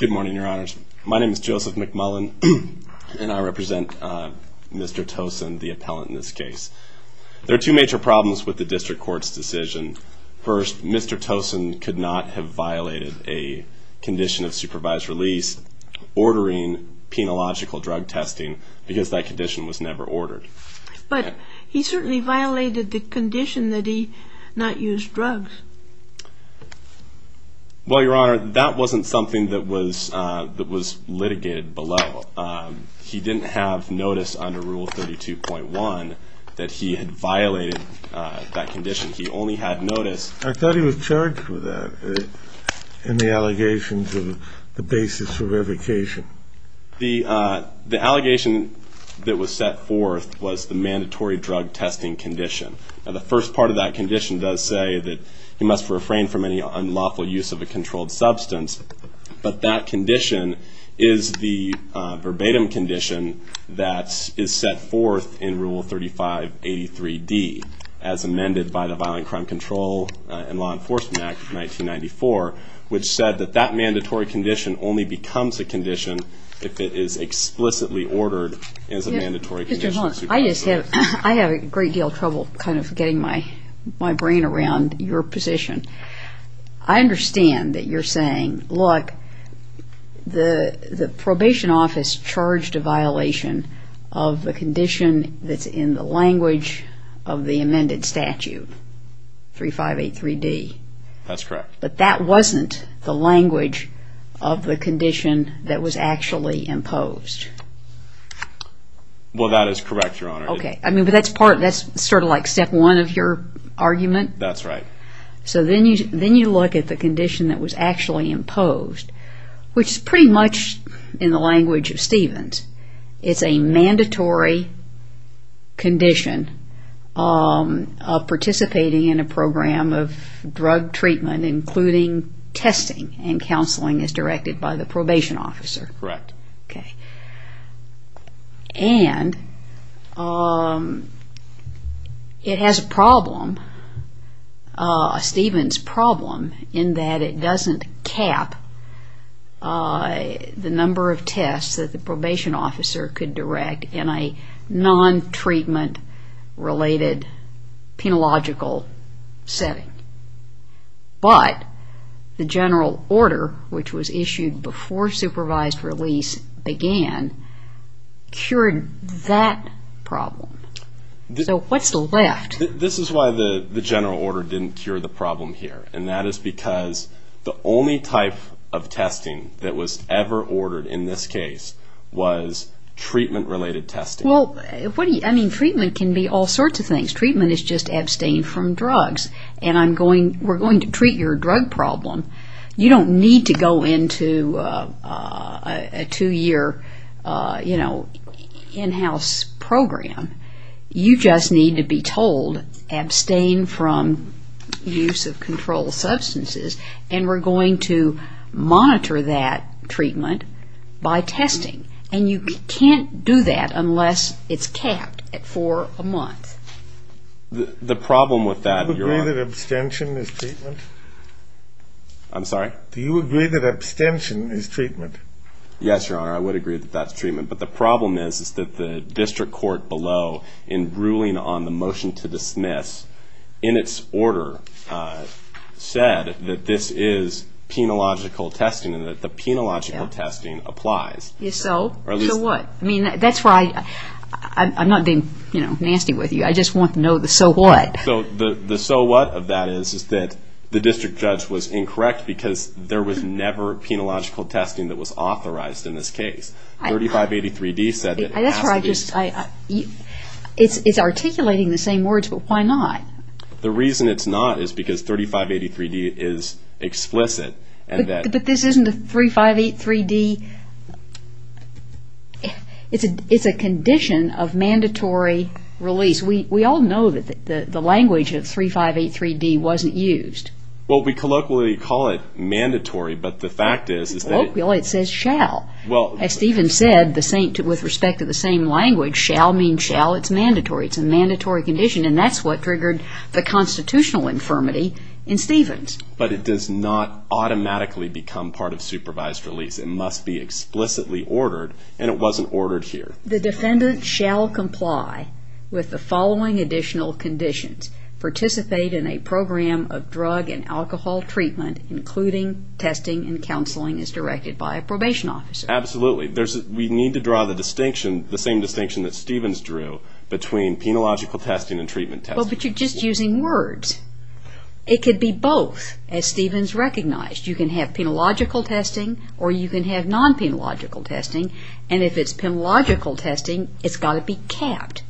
Good morning, your honors. My name is Joseph McMullen, and I represent Mr. Toson, the appellant in this case. There are two major problems with the district court's decision. First, Mr. Toson could not have violated a condition of supervised release ordering penological drug testing because that condition was never ordered. But he certainly violated the condition that he not used drugs. Well, your honor, that wasn't something that was litigated below. He didn't have notice under Rule 32.1 that he had violated that condition. He only had notice. I thought he was charged with that in the allegation to the basis for revocation. The allegation that was set forth was the mandatory drug testing condition. Now, the first part of that condition does say that he must refrain from any unlawful use of a controlled substance. But that condition is the verbatim condition that is set forth in Rule 3583D as amended by the Violent Crime Control and Law Enforcement Act of 1994, which said that that mandatory condition only becomes a condition if it is explicitly ordered as a mandatory condition. Mr. Hunt, I have a great deal of trouble kind of getting my brain around your position. I understand that you're saying, look, the probation office charged a violation of the condition that's in the language of the amended statute, 3583D. That's correct. But that wasn't the language of the condition that was actually imposed. Well, that is correct, Your Honor. Okay. But that's sort of like step one of your argument. That's right. So then you look at the condition that was actually imposed, which is pretty much in the language of Stevens. It's a mandatory condition of participating in a program of drug treatment, including testing and counseling as directed by the probation officer. Correct. Okay. And it has a problem, a Stevens problem, in that it doesn't cap the number of tests that the probation officer could direct in a non-treatment related penological setting. But the general order, which was issued before supervised release began, cured that problem. So what's left? This is why the general order didn't cure the problem here. And that is because the only type of testing that was ever ordered in this case was treatment related testing. Well, I mean, treatment can be all sorts of things. Treatment is just abstained from drugs. And we're going to treat your drug problem. You don't need to go into a two-year, you know, in-house program. You just need to be told abstain from use of controlled substances. And we're going to monitor that treatment by testing. And you can't do that unless it's capped for a month. The problem with that, Your Honor. Do you agree that abstention is treatment? I'm sorry? Do you agree that abstention is treatment? Yes, Your Honor. I would agree that that's treatment. But the problem is that the district court below, in ruling on the motion to dismiss, in its order, said that this is penological testing and that the penological testing applies. So what? I mean, that's why I'm not being, you know, nasty with you. I just want to know the so what. So the so what of that is that the district judge was incorrect because there was never penological testing that was authorized in this case. 3583D said that it has to be. That's where I just – it's articulating the same words, but why not? The reason it's not is because 3583D is explicit. But this isn't a 3583D – it's a condition of mandatory release. We all know that the language of 3583D wasn't used. Well, we colloquially call it mandatory, but the fact is – Colloquially it says shall. As Stephen said, with respect to the same language, shall means shall. It's mandatory. It's a mandatory condition, and that's what triggered the constitutional infirmity in Stephen's. But it does not automatically become part of supervised release. It must be explicitly ordered, and it wasn't ordered here. The defendant shall comply with the following additional conditions. Participate in a program of drug and alcohol treatment, including testing and counseling as directed by a probation officer. Absolutely. We need to draw the distinction, the same distinction that Stephen's drew, between penological testing and treatment testing. Well, but you're just using words. It could be both, as Stephen's recognized. You can have penological testing, or you can have non-penological testing. And if it's penological testing, it's got to be capped.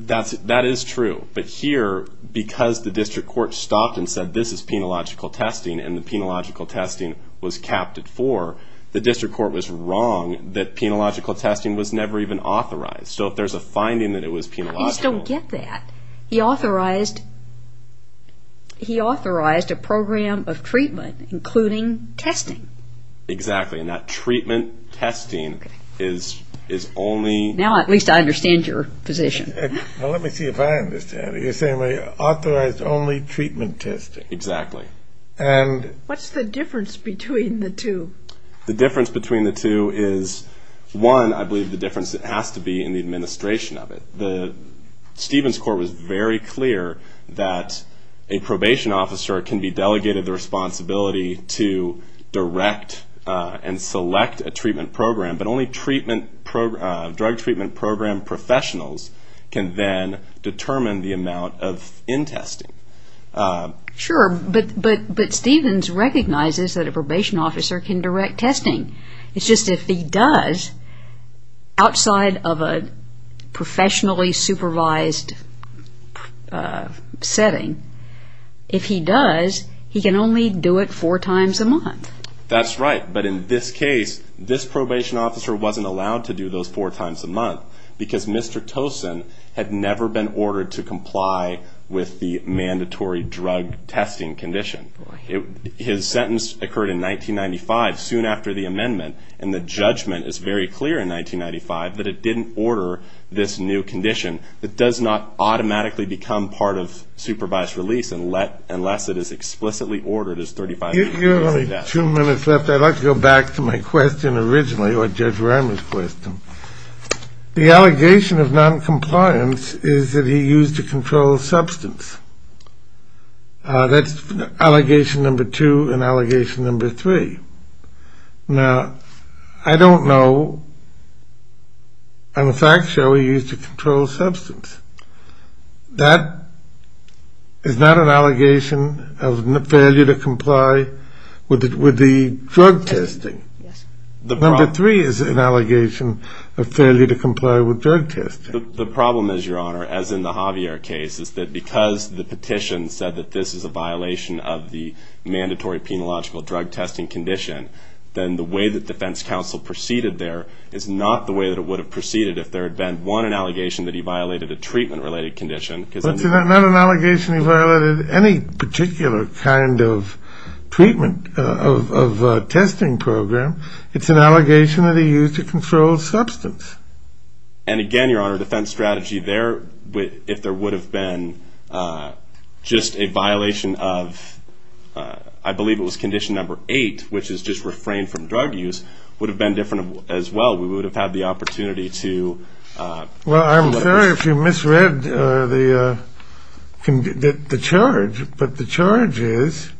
That is true. But here, because the district court stopped and said this is penological testing, and the penological testing was capped at four, the district court was wrong that penological testing was never even authorized. So if there's a finding that it was penological – You just don't get that. He authorized a program of treatment, including testing. Exactly. And that treatment testing is only – Now at least I understand your position. Well, let me see if I understand it. You're saying authorized only treatment testing. Exactly. And – What's the difference between the two? The difference between the two is, one, I believe the difference has to be in the administration of it. Stephen's court was very clear that a probation officer can be delegated the responsibility to direct and select a treatment program, but only drug treatment program professionals can then determine the amount of in-testing. Sure, but Stephen's recognizes that a probation officer can direct testing. It's just if he does, outside of a professionally supervised setting, if he does, he can only do it four times a month. That's right. But in this case, this probation officer wasn't allowed to do those four times a month because Mr. Tosin had never been ordered to comply with the mandatory drug testing condition. His sentence occurred in 1995, soon after the amendment, and the judgment is very clear in 1995 that it didn't order this new condition. It does not automatically become part of supervised release unless it is explicitly ordered as 35 days. You have only two minutes left. I'd like to go back to my question originally, or Judge Ramey's question. The allegation of noncompliance is that he used a controlled substance. That's allegation number two and allegation number three. Now, I don't know on a fact show he used a controlled substance. That is not an allegation of failure to comply with the drug testing. Number three is an allegation of failure to comply with drug testing. The problem is, Your Honor, as in the Javier case, is that because the petition said that this is a violation of the mandatory penological drug testing condition, then the way that defense counsel proceeded there is not the way that it would have proceeded if there had been, one, an allegation that he violated a treatment-related condition. It's not an allegation he violated any particular kind of treatment of a testing program. It's an allegation that he used a controlled substance. And again, Your Honor, defense strategy there, if there would have been just a violation of, I believe it was condition number eight, which is just refrain from drug use, would have been different as well. We would have had the opportunity to... Well, I'm sorry if you misread the charge, but the charge is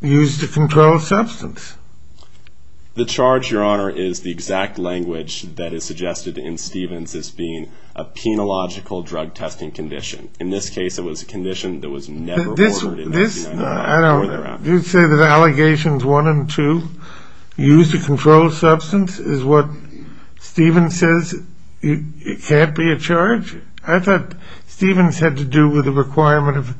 used a controlled substance. The charge, Your Honor, is the exact language that is suggested in Stevens as being a penological drug testing condition. In this case, it was a condition that was never ordered in FBI law. I don't know. You say that allegations one and two, used a controlled substance, is what Stevens says it can't be a charge? I thought Stevens had to do with the requirement of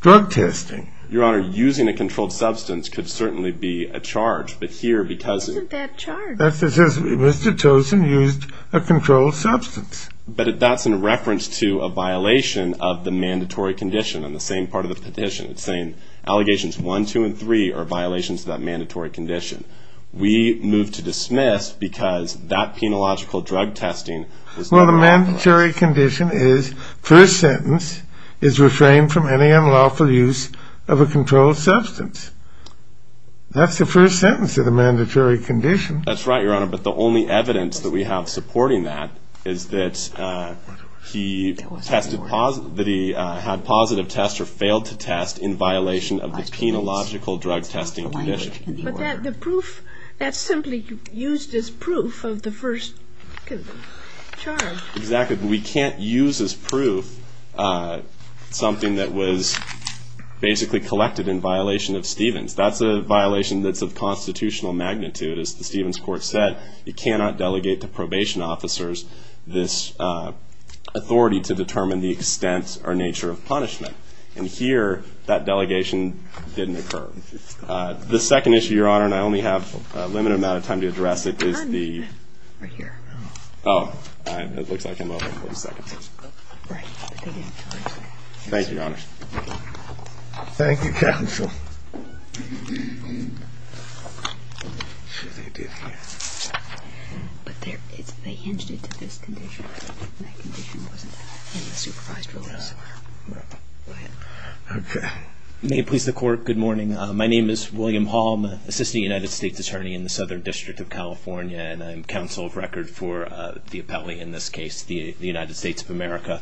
drug testing. Your Honor, using a controlled substance could certainly be a charge. But here, because... It's a bad charge. It says Mr. Tosin used a controlled substance. But that's in reference to a violation of the mandatory condition on the same part of the petition. It's saying allegations one, two, and three are violations of that mandatory condition. We move to dismiss because that penological drug testing... Well, the mandatory condition is first sentence is refrained from any unlawful use of a controlled substance. That's the first sentence of the mandatory condition. That's right, Your Honor. But the only evidence that we have supporting that is that he tested positive, that he had positive tests or failed to test in violation of the penological drug testing condition. But that's simply used as proof of the first charge. Exactly. We can't use as proof something that was basically collected in violation of Stevens. That's a violation that's of constitutional magnitude. As the Stevens court said, you cannot delegate to probation officers this authority to determine the extent or nature of punishment. And here, that delegation didn't occur. The second issue, Your Honor, and I only have a limited amount of time to address it, is the... Right here. Oh. It looks like I'm over 40 seconds. Right. Thank you, Your Honor. Thank you, counsel. But they hinged it to this condition. That condition wasn't in the supervised rules. No. Okay. May it please the court, good morning. My name is William Hall. I'm an assistant United States attorney in the Southern District of California, and I'm counsel of record for the appellee in this case, the United States of America.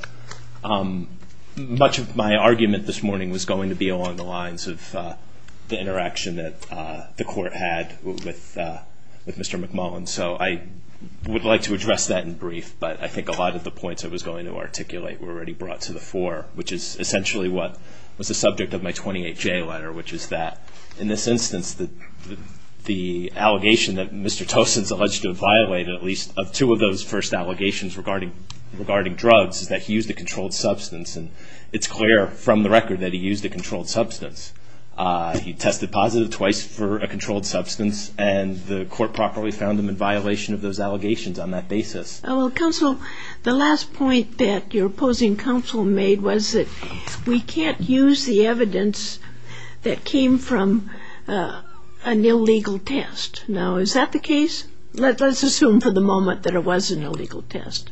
Much of my argument this morning was going to be along the lines of the interaction that the court had with Mr. McMullen. So I would like to address that in brief, but I think a lot of the points I was going to articulate were already brought to the fore, which is essentially what was the subject of my 28-J letter, which is that in this instance, the allegation that Mr. Tosin's alleged to have violated, at least, of two of those first allegations regarding drugs is that he used a controlled substance, and it's clear from the record that he used a controlled substance. He tested positive twice for a controlled substance, and the court properly found him in violation of those allegations on that basis. Counsel, the last point that your opposing counsel made was that we can't use the evidence that came from an illegal test. Now, is that the case? Let's assume for the moment that it was an illegal test.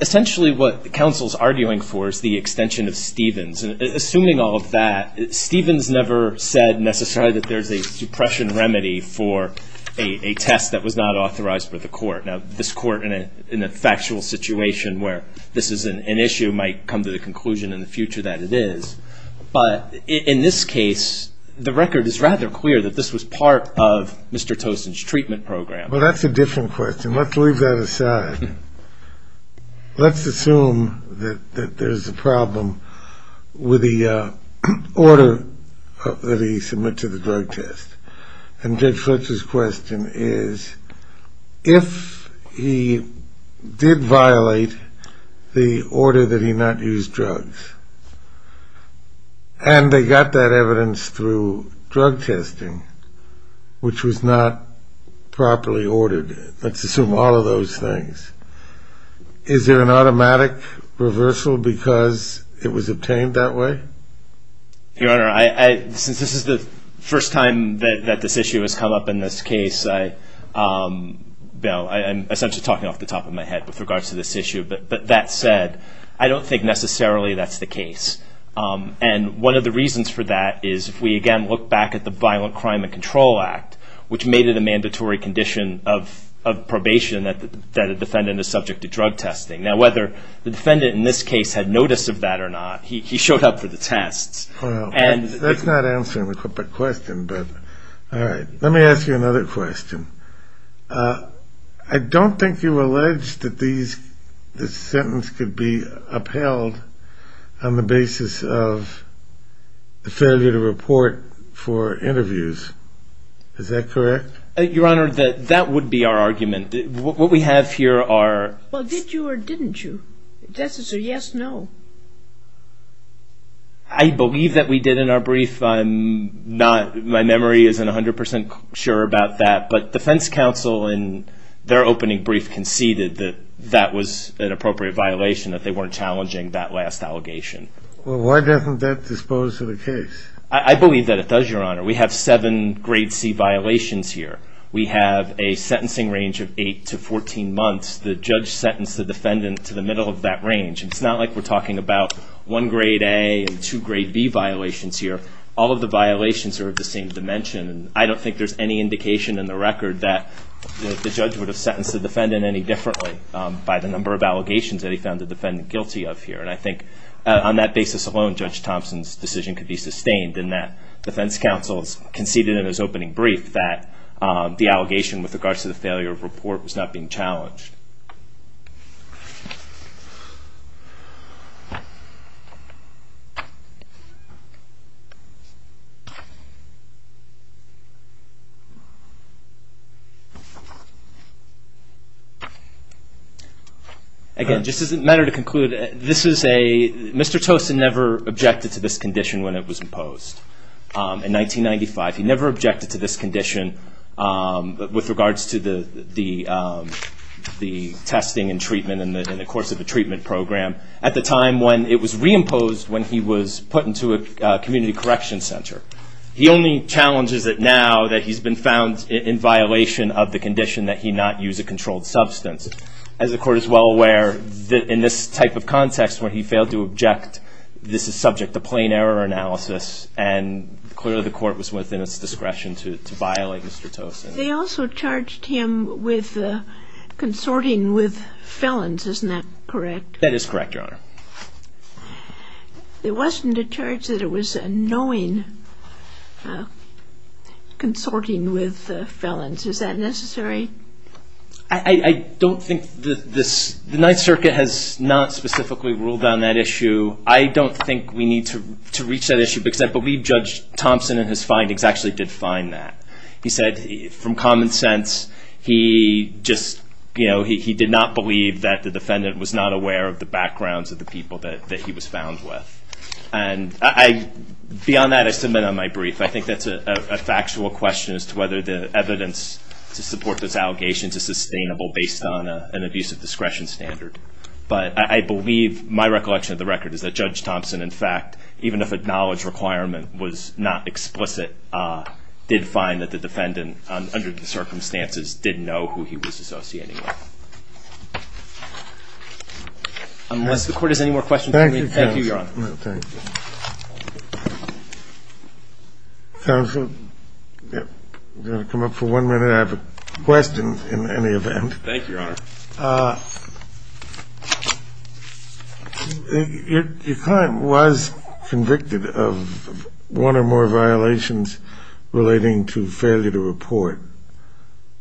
Essentially, what the counsel's arguing for is the extension of Stevens. Assuming all of that, Stevens never said necessarily that there's a suppression remedy for a test that was not authorized by the court. Now, this court, in a factual situation where this is an issue, might come to the conclusion in the future that it is. But in this case, the record is rather clear that this was part of Mr. Tosin's treatment program. Well, that's a different question. Let's leave that aside. Let's assume that there's a problem with the order that he submitted to the drug test, and Judge Fletcher's question is, if he did violate the order that he not use drugs, and they got that evidence through drug testing, which was not properly ordered, let's assume all of those things, is there an automatic reversal because it was obtained that way? Your Honor, since this is the first time that this issue has come up in this case, I'm essentially talking off the top of my head with regards to this issue. But that said, I don't think necessarily that's the case. And one of the reasons for that is, if we again look back at the Violent Crime and Control Act, which made it a mandatory condition of probation that a defendant is subject to drug testing. Now, whether the defendant in this case had notice of that or not, he showed up for the tests. That's not answering the question, but all right. Let me ask you another question. I don't think you allege that this sentence could be upheld on the basis of the failure to report for interviews. Is that correct? Your Honor, that would be our argument. What we have here are Well, did you or didn't you? If that's a yes, no. I believe that we did in our brief. My memory isn't 100% sure about that. But defense counsel in their opening brief conceded that that was an appropriate violation, that they weren't challenging that last allegation. Well, why doesn't that dispose of the case? I believe that it does, Your Honor. We have seven grade C violations here. We have a sentencing range of eight to 14 months. The judge sentenced the defendant to the middle of that range. It's not like we're talking about one grade A and two grade B violations here. All of the violations are of the same dimension. I don't think there's any indication in the record that the judge would have sentenced the defendant any differently by the number of allegations that he found the defendant guilty of here. And I think on that basis alone, Judge Thompson's decision could be sustained in that defense counsel conceded in his opening brief that the allegation with regards to the failure of report was not being challenged. Again, just as a matter to conclude, Mr. Tosin never objected to this condition when it was imposed. In 1995, he never objected to this condition with regards to the testing and treatment in the course of the treatment program at the time when it was reimposed when he was put into a community correction center. He only challenges it now that he's been found in violation of the condition that he not use a controlled substance. As the Court is well aware, in this type of context, where he failed to object, this is subject to plain error analysis and clearly the Court was within its discretion to violate Mr. Tosin. They also charged him with consorting with felons. Isn't that correct? That is correct, Your Honor. It wasn't a charge that it was a knowing consorting with felons. Is that necessary? I don't think the Ninth Circuit has not specifically ruled on that issue. I don't think we need to reach that issue because I believe Judge Thompson in his findings actually did find that. He said from common sense he did not believe that the defendant was not aware of the backgrounds of the people that he was found with. Beyond that, I submit on my brief. I think that's a factual question as to whether the evidence to support those allegations is sustainable based on an abuse of discretion standard. But I believe my recollection of the record is that Judge Thompson, in fact, even if a knowledge requirement was not explicit, did find that the defendant under the circumstances didn't know who he was associating with. Thank you. I'm going to come up for one minute. I have a question in any event. Thank you, Your Honor. Your client was convicted of one or more violations relating to failure to report,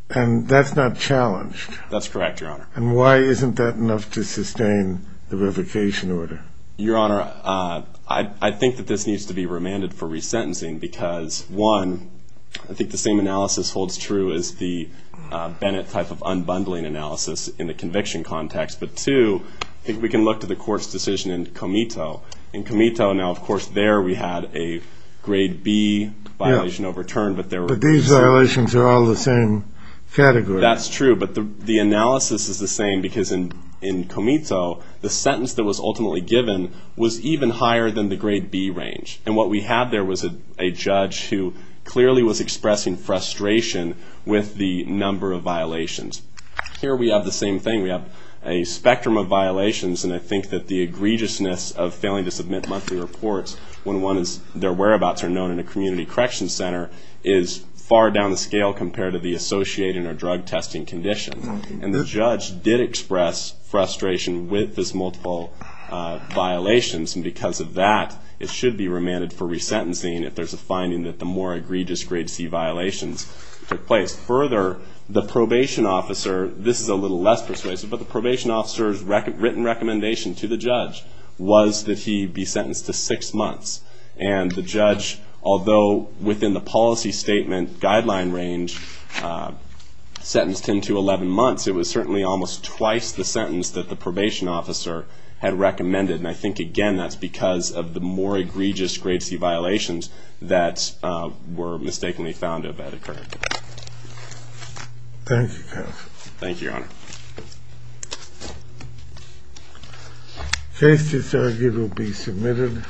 and that's not challenged. That's correct, Your Honor. And why isn't that enough to sustain the revocation order? Your Honor, I think that this needs to be remanded for resentencing because, one, I think the same analysis holds true as the Bennett type of unbundling analysis in the conviction context. But, two, I think we can look to the court's decision in Comito. In Comito, now, of course, there we had a grade B violation overturned. But these violations are all the same category. That's true. But the analysis is the same because in Comito, the sentence that was ultimately given was even higher than the grade B range. And what we had there was a judge who clearly was expressing frustration with the number of violations. Here we have the same thing. We have a spectrum of violations, and I think that the egregiousness of failing to submit monthly reports when their whereabouts are known in a community correction center is far down the scale compared to the associated or drug testing condition. And the judge did express frustration with this multiple violations. And because of that, it should be remanded for resentencing if there's a finding that the more egregious grade C violations took place. Further, the probation officer, this is a little less persuasive, but the probation officer's written recommendation to the judge was that he be sentenced to six months. And the judge, although within the policy statement guideline range, sentenced him to 11 months, it was certainly almost twice the sentence that the probation officer had recommended. And I think, again, that's because of the more egregious grade C violations that were mistakenly found to have occurred. Thank you, counsel. Thank you, Your Honor. The case disargued will be submitted.